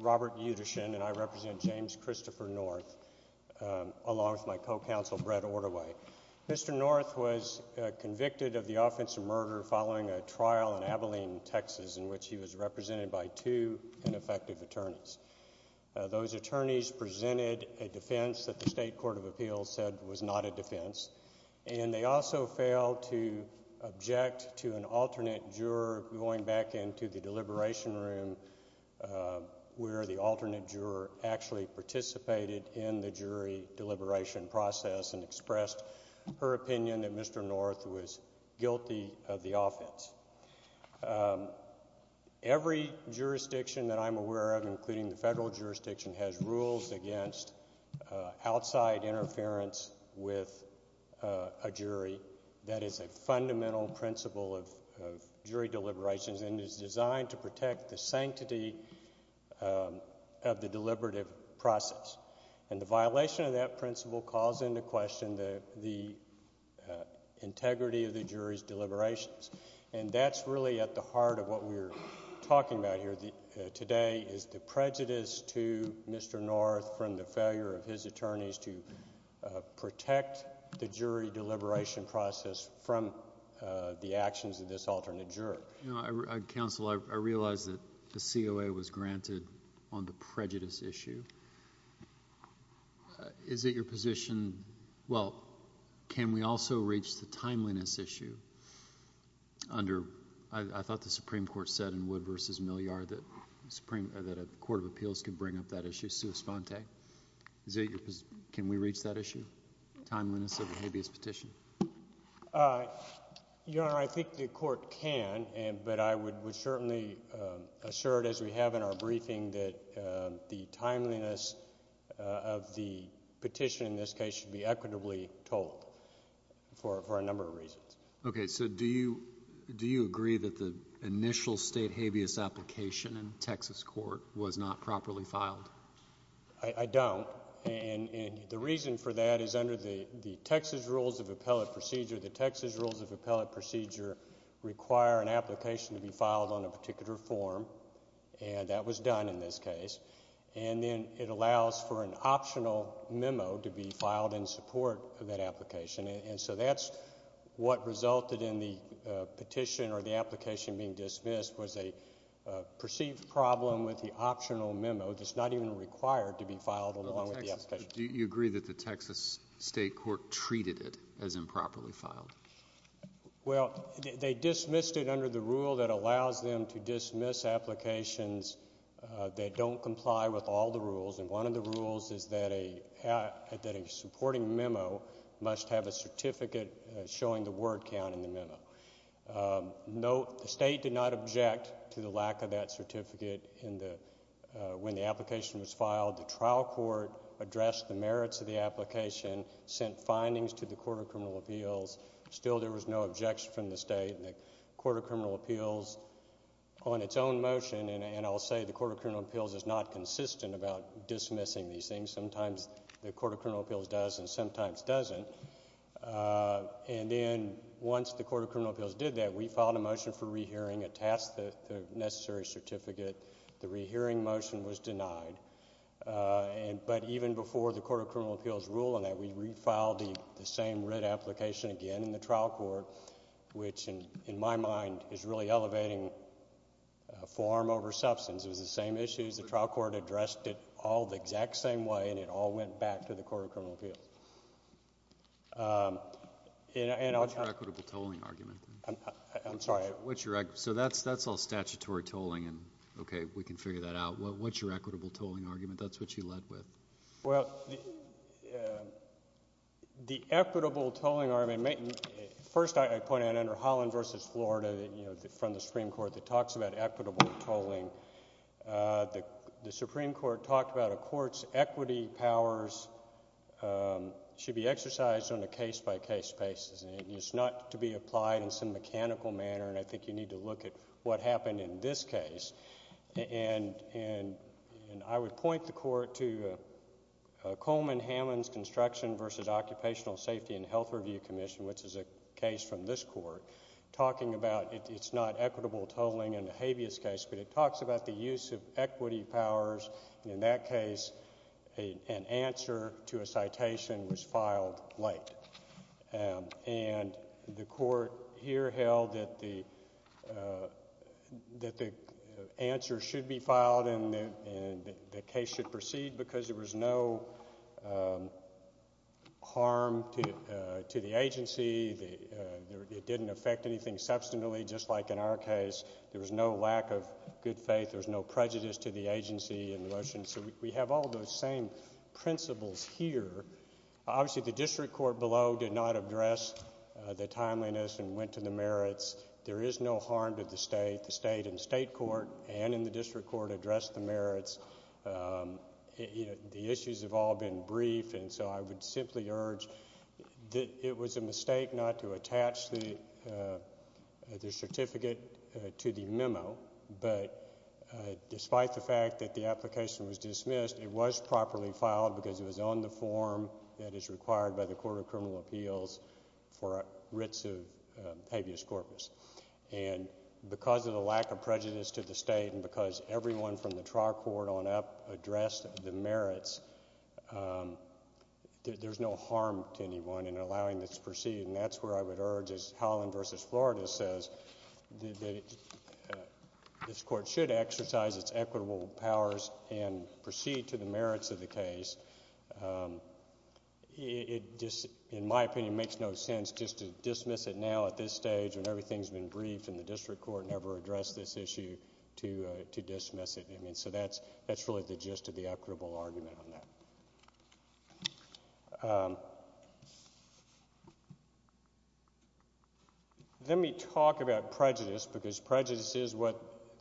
Robert Yudishin and I represent James Christopher North, along with my co-counsel Brett Ortaway. Mr. North was convicted of the offensive murder following a trial in Abilene, Texas, in which he was represented by two ineffective attorneys. Those attorneys presented a defense that the State Court of Appeals said was not a defense, and they also failed to object to an alternate juror going back into the deliberation room, where the alternate juror actually participated in the jury deliberation process and expressed her opinion that Mr. North was guilty of the offense. Every jurisdiction that I'm aware of, including the federal jurisdiction, has rules against outside interference with a jury. That is a fundamental principle of jury deliberations and is designed to protect the sanctity of the deliberative process. And the violation of that principle calls into question the integrity of the jury's deliberations. And that's really at the heart of what we're talking about here today is the prejudice to Mr. North from the failure of his attorneys to protect the jury deliberation process from the actions of this alternate juror. Counsel, I realize that the COA was granted on the prejudice issue. Is it your position – well, can we also reach the timeliness issue under – I thought the Supreme Court said in Wood v. Milliard that a court of appeals could bring up that issue, sua sponte. Can we reach that issue, timeliness of a habeas petition? Your Honor, I think the court can, but I would certainly assert, as we have in our briefing, that the timeliness of the petition in this case should be equitably told for a number of reasons. Okay, so do you agree that the initial state habeas application in Texas court was not properly filed? I don't, and the reason for that is under the Texas Rules of Appellate Procedure, the Texas Rules of Appellate Procedure require an application to be filed on a particular form, and that was done in this case. And then it allows for an optional memo to be filed in support of that application, and so that's what resulted in the petition or the application being dismissed was a perceived problem with the optional memo that's not even required to be filed along with the application. Do you agree that the Texas state court treated it as improperly filed? Well, they dismissed it under the rule that allows them to dismiss applications that don't comply with all the rules, and one of the rules is that a supporting memo must have a certificate showing the word count in the memo. The state did not object to the lack of that certificate when the application was filed. The trial court addressed the merits of the application, sent findings to the Court of Criminal Appeals. Still, there was no objection from the state. The Court of Criminal Appeals, on its own motion, and I'll say the Court of Criminal Appeals is not consistent about dismissing these things. Sometimes the Court of Criminal Appeals does and sometimes doesn't. And then once the Court of Criminal Appeals did that, we filed a motion for rehearing, attached the necessary certificate. The rehearing motion was denied. But even before the Court of Criminal Appeals ruled on that, we refiled the same writ application again in the trial court, which in my mind is really elevating form over substance. It was the same issues. The trial court addressed it all the exact same way, and it all went back to the Court of Criminal Appeals. What's your equitable tolling argument? I'm sorry. So that's all statutory tolling, and okay, we can figure that out. What's your equitable tolling argument? That's what you led with. Well, the equitable tolling argument, first I point out under Holland v. Florida from the Supreme Court that talks about equitable tolling, the Supreme Court talked about a court's equity powers should be exercised on a case-by-case basis. It's not to be applied in some mechanical manner, and I think you need to look at what happened in this case. And I would point the court to Coleman-Hammond's Construction v. Occupational Safety and Health Review Commission, which is a case from this court, talking about it's not equitable tolling in the habeas case, but it talks about the use of equity powers, and in that case an answer to a citation was filed late. And the court here held that the answer should be filed and the case should proceed because there was no harm to the agency. It didn't affect anything substantially, just like in our case. There was no lack of good faith. There was no prejudice to the agency in the motion. So we have all those same principles here. Obviously, the district court below did not address the timeliness and went to the merits. There is no harm to the state. The state in state court and in the district court addressed the merits. The issues have all been brief, and so I would simply urge that it was a mistake not to attach the certificate to the memo, but despite the fact that the application was dismissed, it was properly filed because it was on the form that is required by the Court of Criminal Appeals for writs of habeas corpus. And because of the lack of prejudice to the state and because everyone from the trial court on up addressed the merits, there's no harm to anyone in allowing this to proceed, and that's where I would urge, as Holland v. Florida says, that this court should exercise its equitable powers and proceed to the merits of the case. It just, in my opinion, makes no sense just to dismiss it now at this stage when everything has been briefed and the district court never addressed this issue to dismiss it. I mean, so that's really the gist of the equitable argument on that. Let me talk about prejudice because prejudice is what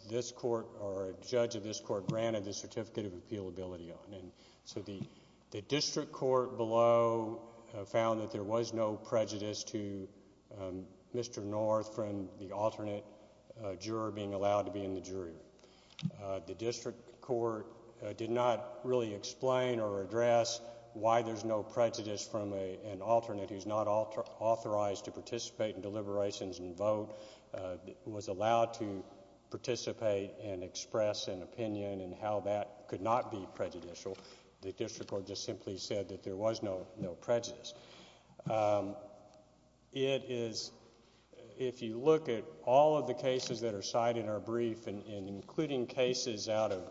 this court or a judge of this court granted the certificate of appealability on, and so the district court below found that there was no prejudice to Mr. North from the alternate juror being allowed to be in the jury. The district court did not really explain or address why there's no prejudice from an alternate who's not authorized to participate in deliberations and vote, was allowed to participate and express an opinion and how that could not be prejudicial. The district court just simply said that there was no prejudice. It is, if you look at all of the cases that are cited in our brief, including cases out of,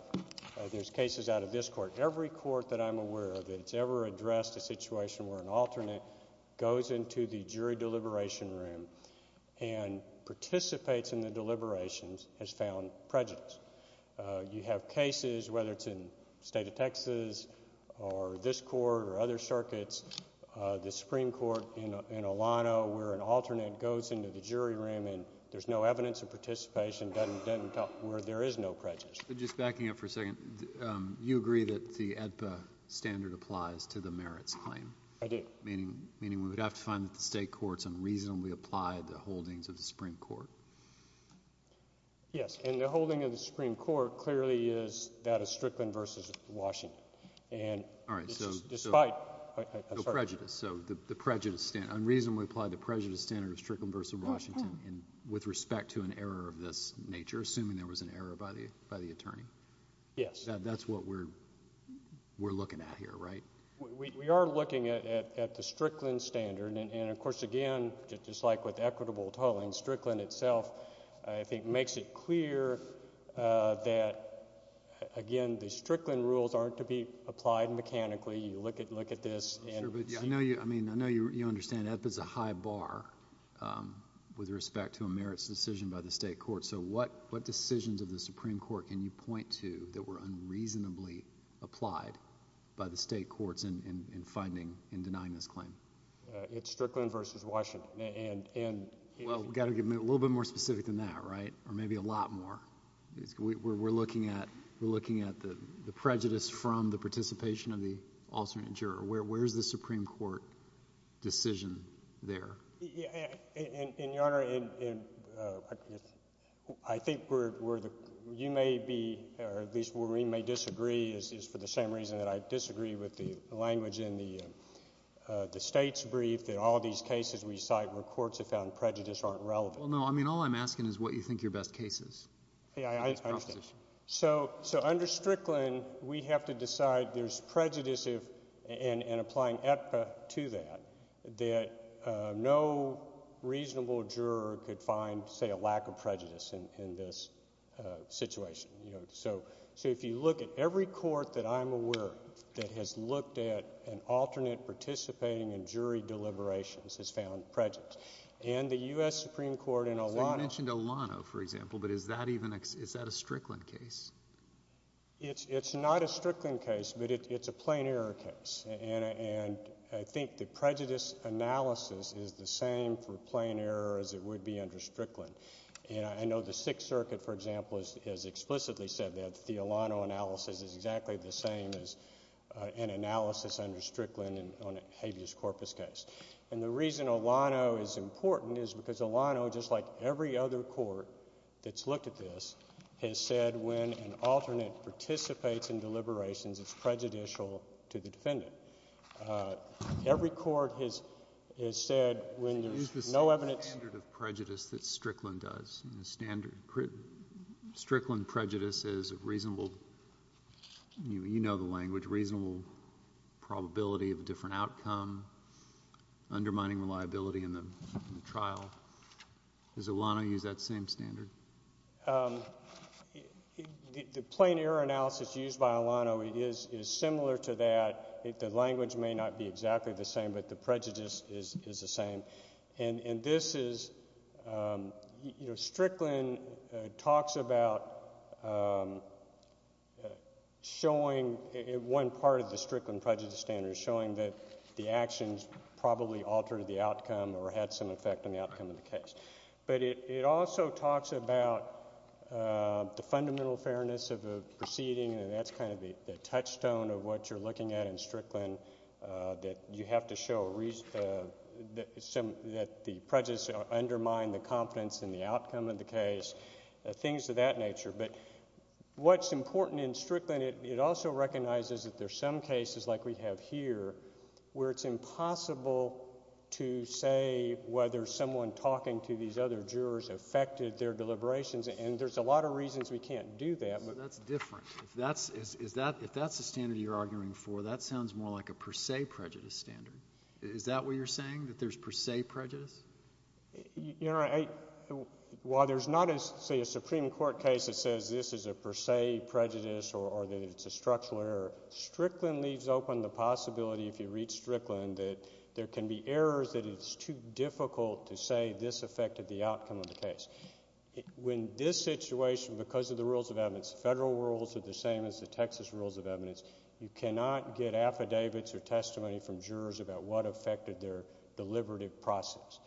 there's cases out of this court, every court that I'm aware of that's ever addressed a situation where an alternate goes into the jury deliberation room and participates in the deliberations has found prejudice. You have cases, whether it's in the state of Texas or this court or other circuits, the Supreme Court in Alano where an alternate goes into the jury room and there's no evidence of participation, doesn't tell where there is no prejudice. But just backing up for a second, you agree that the AEDPA standard applies to the merits claim? I do. Meaning we would have to find that the state courts unreasonably applied the holdings of the Supreme Court? Yes. And the holding of the Supreme Court clearly is that of Strickland v. Washington. All right. Despite, I'm sorry. No prejudice. So the prejudice, unreasonably applied the prejudice standard of Strickland v. Washington with respect to an error of this nature, assuming there was an error by the attorney? Yes. That's what we're looking at here, right? We are looking at the Strickland standard. And, of course, again, just like with equitable tolling, Strickland itself, I think, makes it clear that, again, the Strickland rules aren't to be applied mechanically. You look at this. I know you understand AEDPA is a high bar with respect to a merits decision by the state courts. So what decisions of the Supreme Court can you point to that were unreasonably applied by the state courts in finding and denying this claim? It's Strickland v. Washington. Well, we've got to get a little bit more specific than that, right? Or maybe a lot more. We're looking at the prejudice from the participation of the alternate juror. Where is the Supreme Court decision there? And, Your Honor, I think where you may be or at least where we may disagree is for the same reason that I disagree with the language in the state's brief that all these cases we cite where courts have found prejudice aren't relevant. Well, no. I mean all I'm asking is what you think your best case is. I understand. So under Strickland, we have to decide there's prejudice in applying AEDPA to that, that no reasonable juror could find, say, a lack of prejudice in this situation. So if you look at every court that I'm aware of that has looked at an alternate participating in jury deliberations has found prejudice. And the U.S. Supreme Court in Olano. So you mentioned Olano, for example, but is that a Strickland case? It's not a Strickland case, but it's a plain error case. And I think the prejudice analysis is the same for plain error as it would be under Strickland. And I know the Sixth Circuit, for example, has explicitly said that the Olano analysis is exactly the same as an analysis under Strickland on a habeas corpus case. And the reason Olano is important is because Olano, just like every other court that's looked at this, has said when an alternate participates in deliberations, it's prejudicial to the defendant. Every court has said when there's no evidence. Use the standard of prejudice that Strickland does. Strickland prejudice is a reasonable, you know the language, reasonable probability of a different outcome undermining reliability in the trial. Does Olano use that same standard? The plain error analysis used by Olano is similar to that. The language may not be exactly the same, but the prejudice is the same. And this is, you know, Strickland talks about showing one part of the Strickland prejudice standard, showing that the actions probably altered the outcome or had some effect on the outcome of the case. But it also talks about the fundamental fairness of the proceeding, and that's kind of the touchstone of what you're looking at in Strickland, that you have to show that the prejudice undermined the confidence in the outcome of the case, things of that nature. But what's important in Strickland, it also recognizes that there's some cases like we have here where it's impossible to say whether someone talking to these other jurors affected their deliberations, and there's a lot of reasons we can't do that. That's different. If that's the standard you're arguing for, that sounds more like a per se prejudice standard. Is that what you're saying, that there's per se prejudice? You know, while there's not, say, a Supreme Court case that says this is a per se prejudice or that it's a structural error, Strickland leaves open the possibility, if you read Strickland, that there can be errors that it's too difficult to say this affected the outcome of the case. When this situation, because of the rules of evidence, federal rules are the same as the Texas rules of evidence, you cannot get affidavits or testimony from jurors about what affected their deliberative process.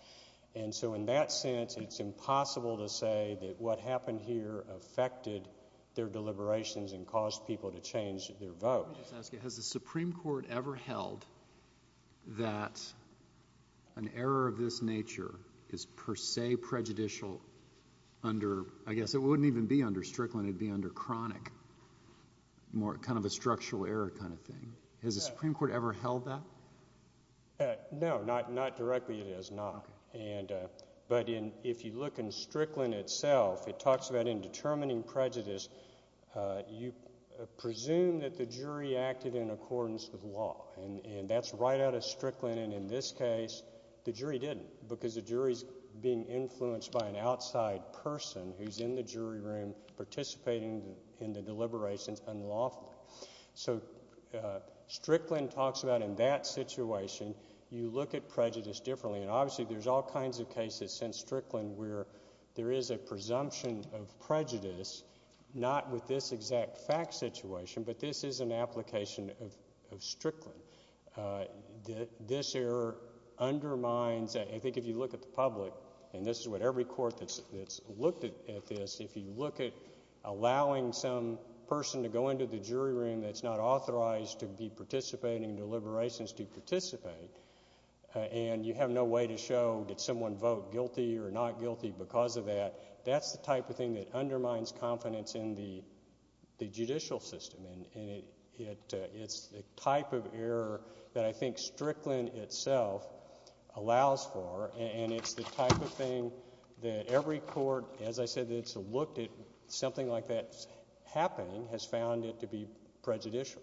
And so in that sense, it's impossible to say that what happened here affected their deliberations and caused people to change their vote. Let me just ask you, has the Supreme Court ever held that an error of this nature is per se prejudicial under – I guess it wouldn't even be under Strickland, it would be under chronic, kind of a structural error kind of thing. Has the Supreme Court ever held that? No, not directly, it has not. But if you look in Strickland itself, it talks about in determining prejudice, you presume that the jury acted in accordance with law, and that's right out of Strickland, and in this case the jury didn't because the jury's being influenced by an outside person who's in the jury room participating in the deliberations unlawfully. So Strickland talks about in that situation you look at prejudice differently, and obviously there's all kinds of cases since Strickland where there is a presumption of prejudice, not with this exact fact situation, but this is an application of Strickland. This error undermines – I think if you look at the public, and this is what every court that's looked at this, if you look at allowing some person to go into the jury room that's not authorized to be participating in deliberations to participate, and you have no way to show did someone vote guilty or not guilty because of that, that's the type of thing that undermines confidence in the judicial system, and it's the type of error that I think Strickland itself allows for, and it's the type of thing that every court, as I said, that's looked at something like that happening has found it to be prejudicial.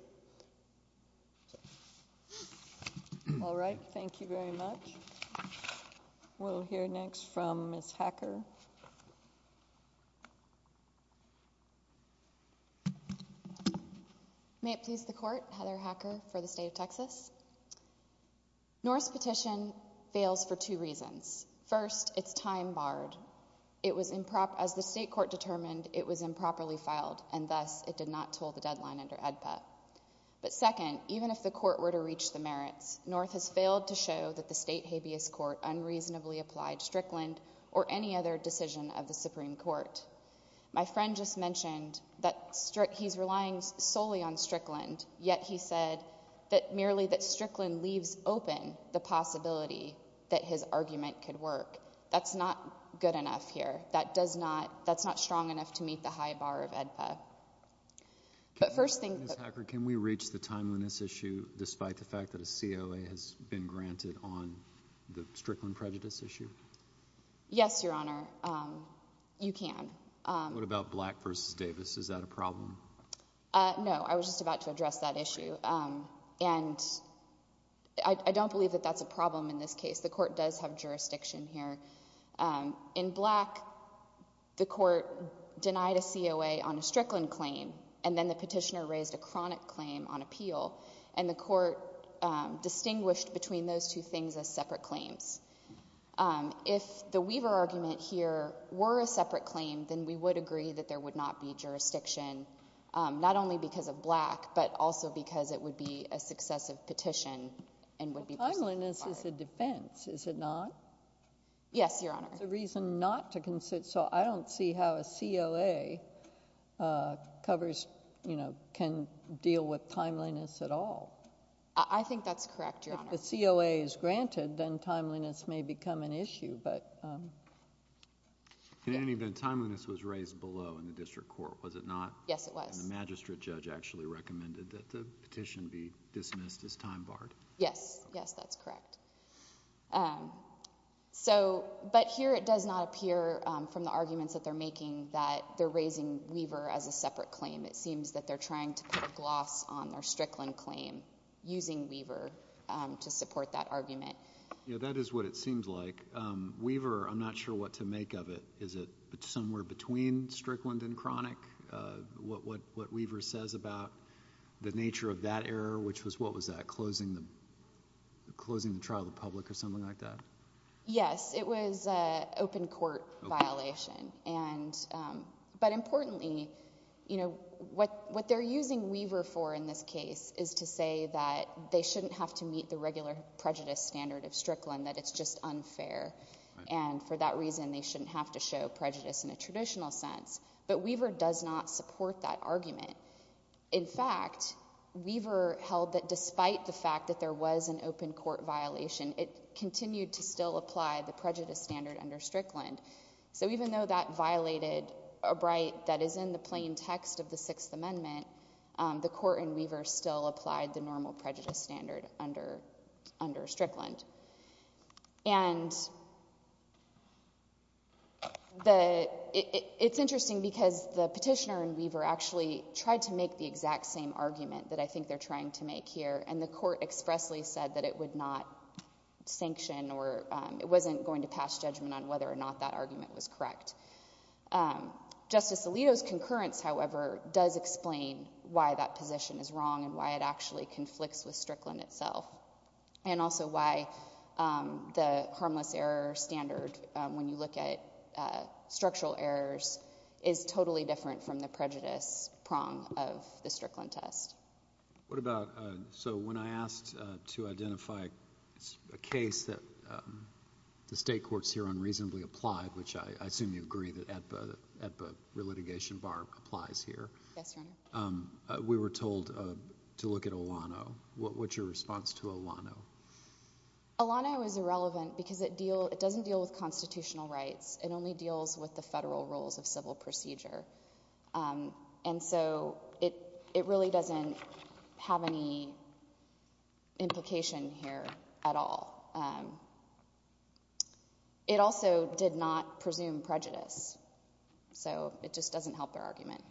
All right. Thank you very much. We'll hear next from Ms. Hacker. May it please the Court, Heather Hacker for the state of Texas. North's petition fails for two reasons. First, it's time barred. As the state court determined, it was improperly filed, and thus it did not toll the deadline under EDPA. But second, even if the court were to reach the merits, North has failed to show that the state habeas court unreasonably applied Strickland or any other decision of the Supreme Court. My friend just mentioned that he's relying solely on Strickland, yet he said that merely that Strickland leaves open the possibility that his argument could work. That's not good enough here. That's not strong enough to meet the high bar of EDPA. Ms. Hacker, can we reach the time on this issue despite the fact that a COA has been granted on the Strickland prejudice issue? Yes, Your Honor. You can. What about Black v. Davis? Is that a problem? No. I was just about to address that issue. And I don't believe that that's a problem in this case. The court does have jurisdiction here. In Black, the court denied a COA on a Strickland claim, and then the petitioner raised a chronic claim on appeal, and the court distinguished between those two things as separate claims. If the Weaver argument here were a separate claim, then we would agree that there would not be jurisdiction, not only because of Black, but also because it would be a successive petition and would be personal. Timeliness is a defense, is it not? Yes, Your Honor. It's a reason not to consider. So I don't see how a COA covers, you know, can deal with timeliness at all. I think that's correct, Your Honor. If the COA is granted, then timeliness may become an issue. In any event, timeliness was raised below in the district court, was it not? Yes, it was. And the magistrate judge actually recommended that the petition be dismissed as time barred. Yes, yes, that's correct. But here it does not appear from the arguments that they're making that they're raising Weaver as a separate claim. It seems that they're trying to put a gloss on their Strickland claim using Weaver to support that argument. Yeah, that is what it seems like. Weaver, I'm not sure what to make of it. Is it somewhere between Strickland and chronic, what Weaver says about the nature of that error, which was, what was that, closing the trial to the public or something like that? Yes, it was an open court violation. But importantly, you know, what they're using Weaver for in this case is to say that they shouldn't have to meet the regular prejudice standard of Strickland, that it's just unfair. And for that reason, they shouldn't have to show prejudice in a traditional sense. But Weaver does not support that argument. In fact, Weaver held that despite the fact that there was an open court violation, it continued to still apply the prejudice standard under Strickland. So even though that violated a right that is in the plain text of the Sixth Amendment, the court in Weaver still applied the normal prejudice standard under Strickland. And it's interesting because the petitioner in Weaver actually tried to make the exact same argument that I think they're trying to make here, and the court expressly said that it would not sanction or it wasn't going to pass judgment on whether or not that argument was correct. Justice Alito's concurrence, however, does explain why that position is wrong and why it actually conflicts with Strickland itself and also why the harmless error standard, when you look at structural errors, is totally different from the prejudice prong of the Strickland test. So when I asked to identify a case that the state courts here unreasonably applied, which I assume you agree that the litigation bar applies here. Yes, Your Honor. We were told to look at Olano. What's your response to Olano? Olano is irrelevant because it doesn't deal with constitutional rights. It only deals with the federal rules of civil procedure. And so it really doesn't have any implication here at all. It also did not presume prejudice, so it just doesn't help their argument.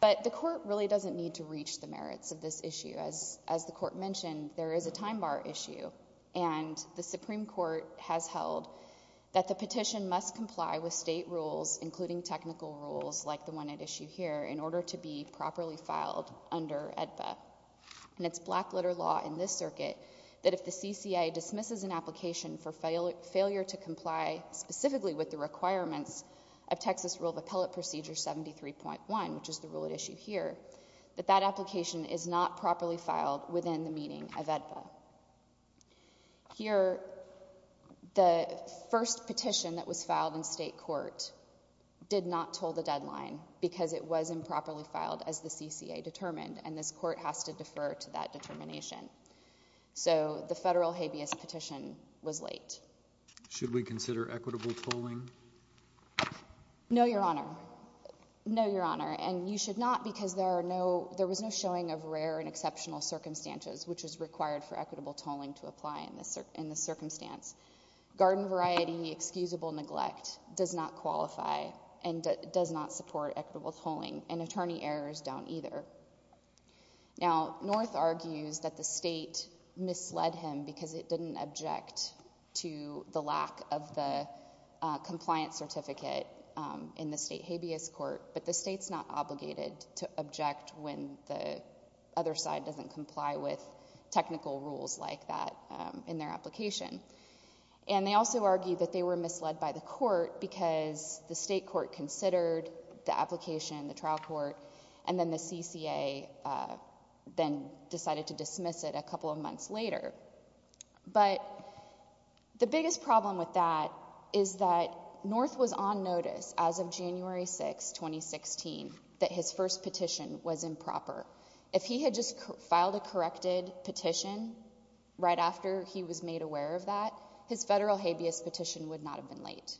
But the court really doesn't need to reach the merits of this issue. As the court mentioned, there is a time bar issue, and the Supreme Court has held that the petition must comply with state rules, including technical rules like the one at issue here, in order to be properly filed under AEDPA. And it's black-letter law in this circuit that if the CCA dismisses an application for failure to comply specifically with the requirements of Texas Rule of Appellate Procedure 73.1, which is the rule at issue here, that that application is not properly filed within the meeting of AEDPA. Here, the first petition that was filed in state court did not toll the deadline because it was improperly filed as the CCA determined, and this court has to defer to that determination. So the federal habeas petition was late. Should we consider equitable tolling? No, Your Honor. No, Your Honor. And you should not because there was no showing of rare and exceptional circumstances, which is required for equitable tolling to apply in this circumstance. Garden variety excusable neglect does not qualify and does not support equitable tolling, and attorney errors don't either. Now, North argues that the state misled him because it didn't object to the lack of the compliance certificate in the state habeas court, when the other side doesn't comply with technical rules like that in their application. And they also argue that they were misled by the court because the state court considered the application in the trial court, and then the CCA then decided to dismiss it a couple of months later. But the biggest problem with that is that North was on notice as of January 6, 2016, that his first petition was improper. If he had just filed a corrected petition right after he was made aware of that, his federal habeas petition would not have been late.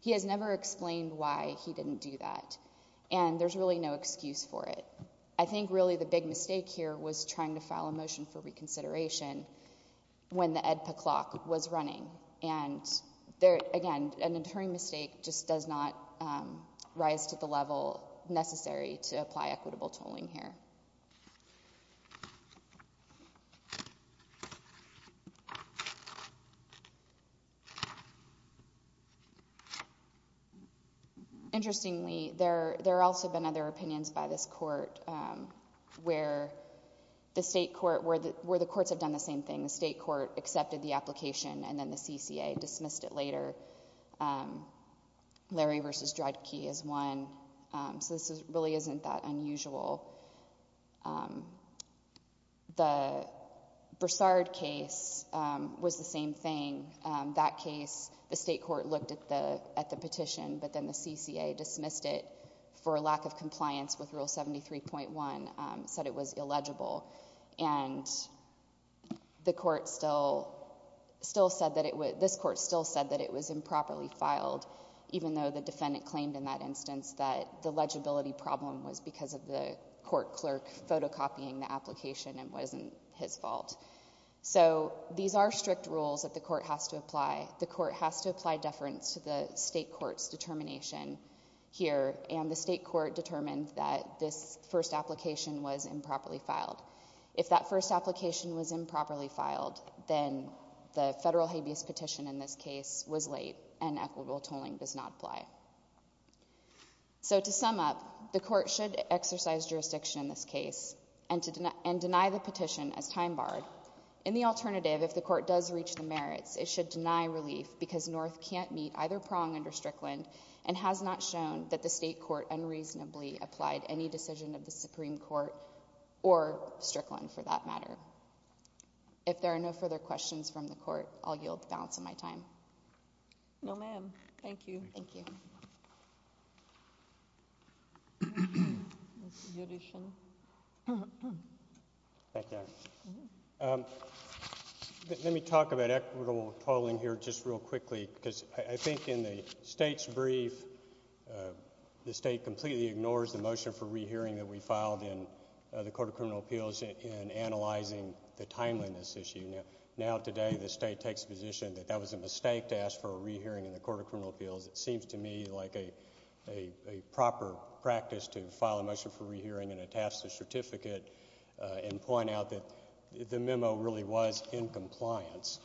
He has never explained why he didn't do that, and there's really no excuse for it. I think really the big mistake here was trying to file a motion for reconsideration when the AEDPA clock was running, and, again, an attorney mistake just does not rise to the level necessary to apply equitable tolling here. Interestingly, there have also been other opinions by this court where the courts have done the same thing. The state court accepted the application, and then the CCA dismissed it later. Larry v. Dredke is one. So this really isn't that unusual. The Broussard case was the same thing. That case, the state court looked at the petition, but then the CCA dismissed it for a lack of compliance with Rule 73.1, said it was illegible. And this court still said that it was improperly filed, even though the defendant claimed in that instance that the legibility problem was because of the court clerk photocopying the application and wasn't his fault. So these are strict rules that the court has to apply. The court has to apply deference to the state court's determination here, and the state court determined that this first application was improperly filed. If that first application was improperly filed, then the federal habeas petition in this case was late and equitable tolling does not apply. So to sum up, the court should exercise jurisdiction in this case and deny the petition as time barred. In the alternative, if the court does reach the merits, it should deny relief because North can't meet either prong under Strickland and has not shown that the state court unreasonably applied any decision of the Supreme Court or Strickland for that matter. If there are no further questions from the court, I'll yield the balance of my time. No, ma'am. Thank you. Thank you. Let me talk about equitable tolling here just real quickly because I think in the state's brief, the state completely ignores the motion for rehearing that we filed in the Court of Criminal Appeals in analyzing the timeliness issue. Now today the state takes the position that that was a mistake to ask for a rehearing in the Court of Criminal Appeals. It seems to me like a proper practice to file a motion for rehearing and attach the certificate and point out that the memo really was in compliance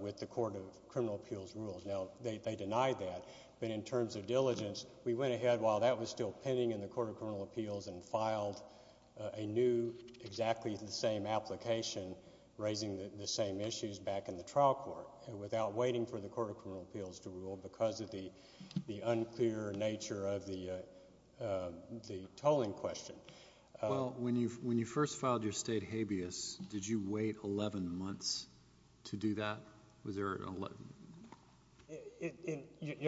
with the Court of Criminal Appeals rules. Now they denied that, but in terms of diligence, we went ahead while that was still pending in the Court of Criminal Appeals and filed a new exactly the same application raising the same issues back in the trial court without waiting for the Court of Criminal Appeals to rule because of the unclear nature of the tolling question. Well, when you first filed your state habeas, did you wait 11 months to do that? Your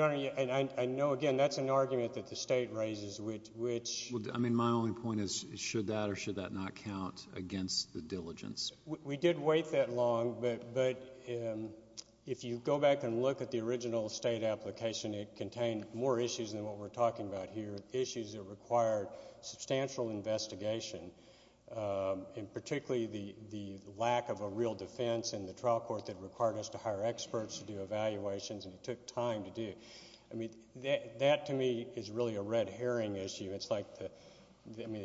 Honor, I know again that's an argument that the state raises. My only point is should that or should that not count against the diligence? We did wait that long, but if you go back and look at the original state application, it contained more issues than what we're talking about here, issues that required substantial investigation and particularly the lack of a real defense in the trial court that required us to hire experts to do evaluations, and it took time to do. I mean, that to me is really a red herring issue. It's like the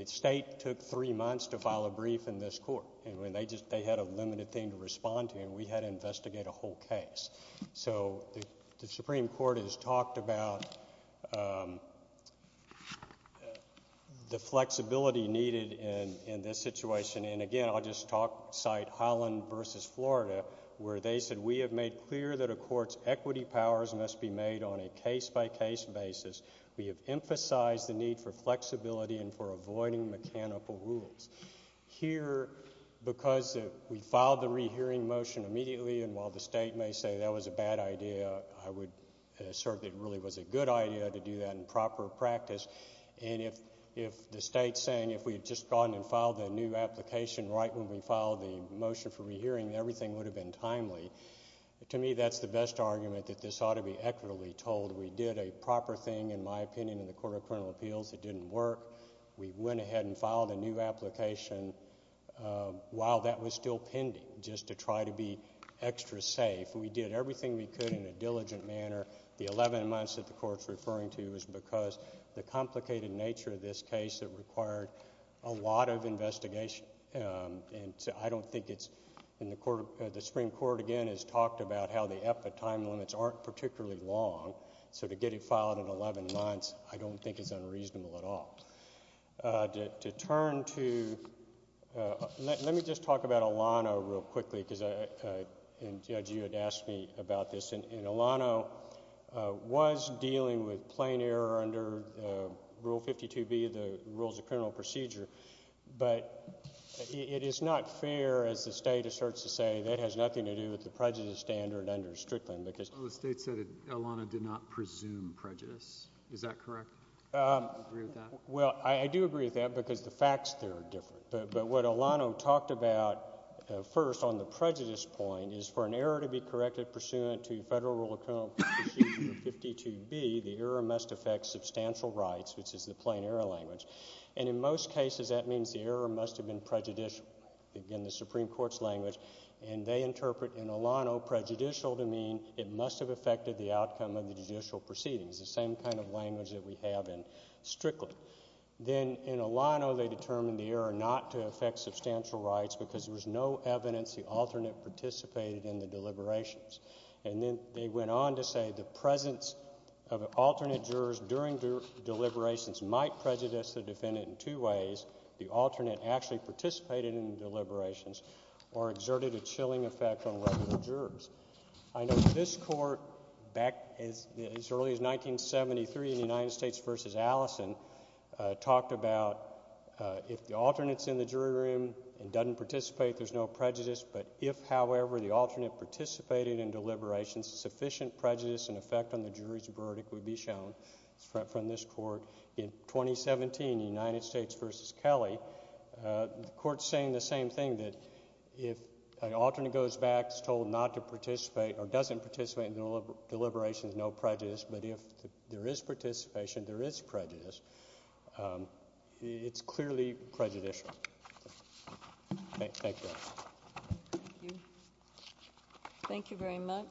state took three months to file a brief in this court, and they had a limited thing to respond to, and we had to investigate a whole case. So the Supreme Court has talked about the flexibility needed in this situation, and again I'll just cite Holland v. Florida where they said, we have made clear that a court's equity powers must be made on a case-by-case basis. We have emphasized the need for flexibility and for avoiding mechanical rules. Here, because we filed the rehearing motion immediately, and while the state may say that was a bad idea, I would assert that it really was a good idea to do that in proper practice, and if the state's saying if we had just gone and filed a new application right when we filed the motion for rehearing, everything would have been timely, to me that's the best argument that this ought to be equitably told. We did a proper thing, in my opinion, in the Court of Criminal Appeals that didn't work. We went ahead and filed a new application while that was still pending, just to try to be extra safe. We did everything we could in a diligent manner. The 11 months that the Court's referring to is because the complicated nature of this case, it required a lot of investigation, and I don't think it's in the Court. The Supreme Court, again, has talked about how the EPA time limits aren't particularly long, so to get it filed in 11 months I don't think is unreasonable at all. To turn to, let me just talk about Elano real quickly, because Judge, you had asked me about this, and Elano was dealing with plain error under Rule 52B of the Rules of Criminal Procedure, but it is not fair, as the state asserts to say, that it has nothing to do with the prejudice standard under Strickland. Well, the state said Elano did not presume prejudice. Is that correct? Do you agree with that? Well, I do agree with that because the facts there are different, but what Elano talked about first on the prejudice point is for an error to be corrected pursuant to Federal Rule of Criminal Procedure 52B, the error must affect substantial rights, which is the plain error language, and in most cases that means the error must have been prejudicial, again, the Supreme Court's language, and they interpret in Elano prejudicial to mean it must have affected the outcome of the judicial proceedings, the same kind of language that we have in Strickland. Then in Elano they determined the error not to affect substantial rights because there was no evidence the alternate participated in the deliberations, and then they went on to say the presence of alternate jurors during deliberations might prejudice the defendant in two ways, the alternate actually participated in the deliberations or exerted a chilling effect on regular jurors. I know this Court back as early as 1973 in the United States v. Allison talked about if the alternate's in the jury room and doesn't participate, there's no prejudice, but if, however, the alternate participated in deliberations, sufficient prejudice and effect on the jury's verdict would be shown from this Court. In 2017, United States v. Kelly, the Court's saying the same thing, that if an alternate goes back, is told not to participate or doesn't participate in deliberations, no prejudice, but if there is participation, there is prejudice, it's clearly prejudicial. Thank you. Thank you very much.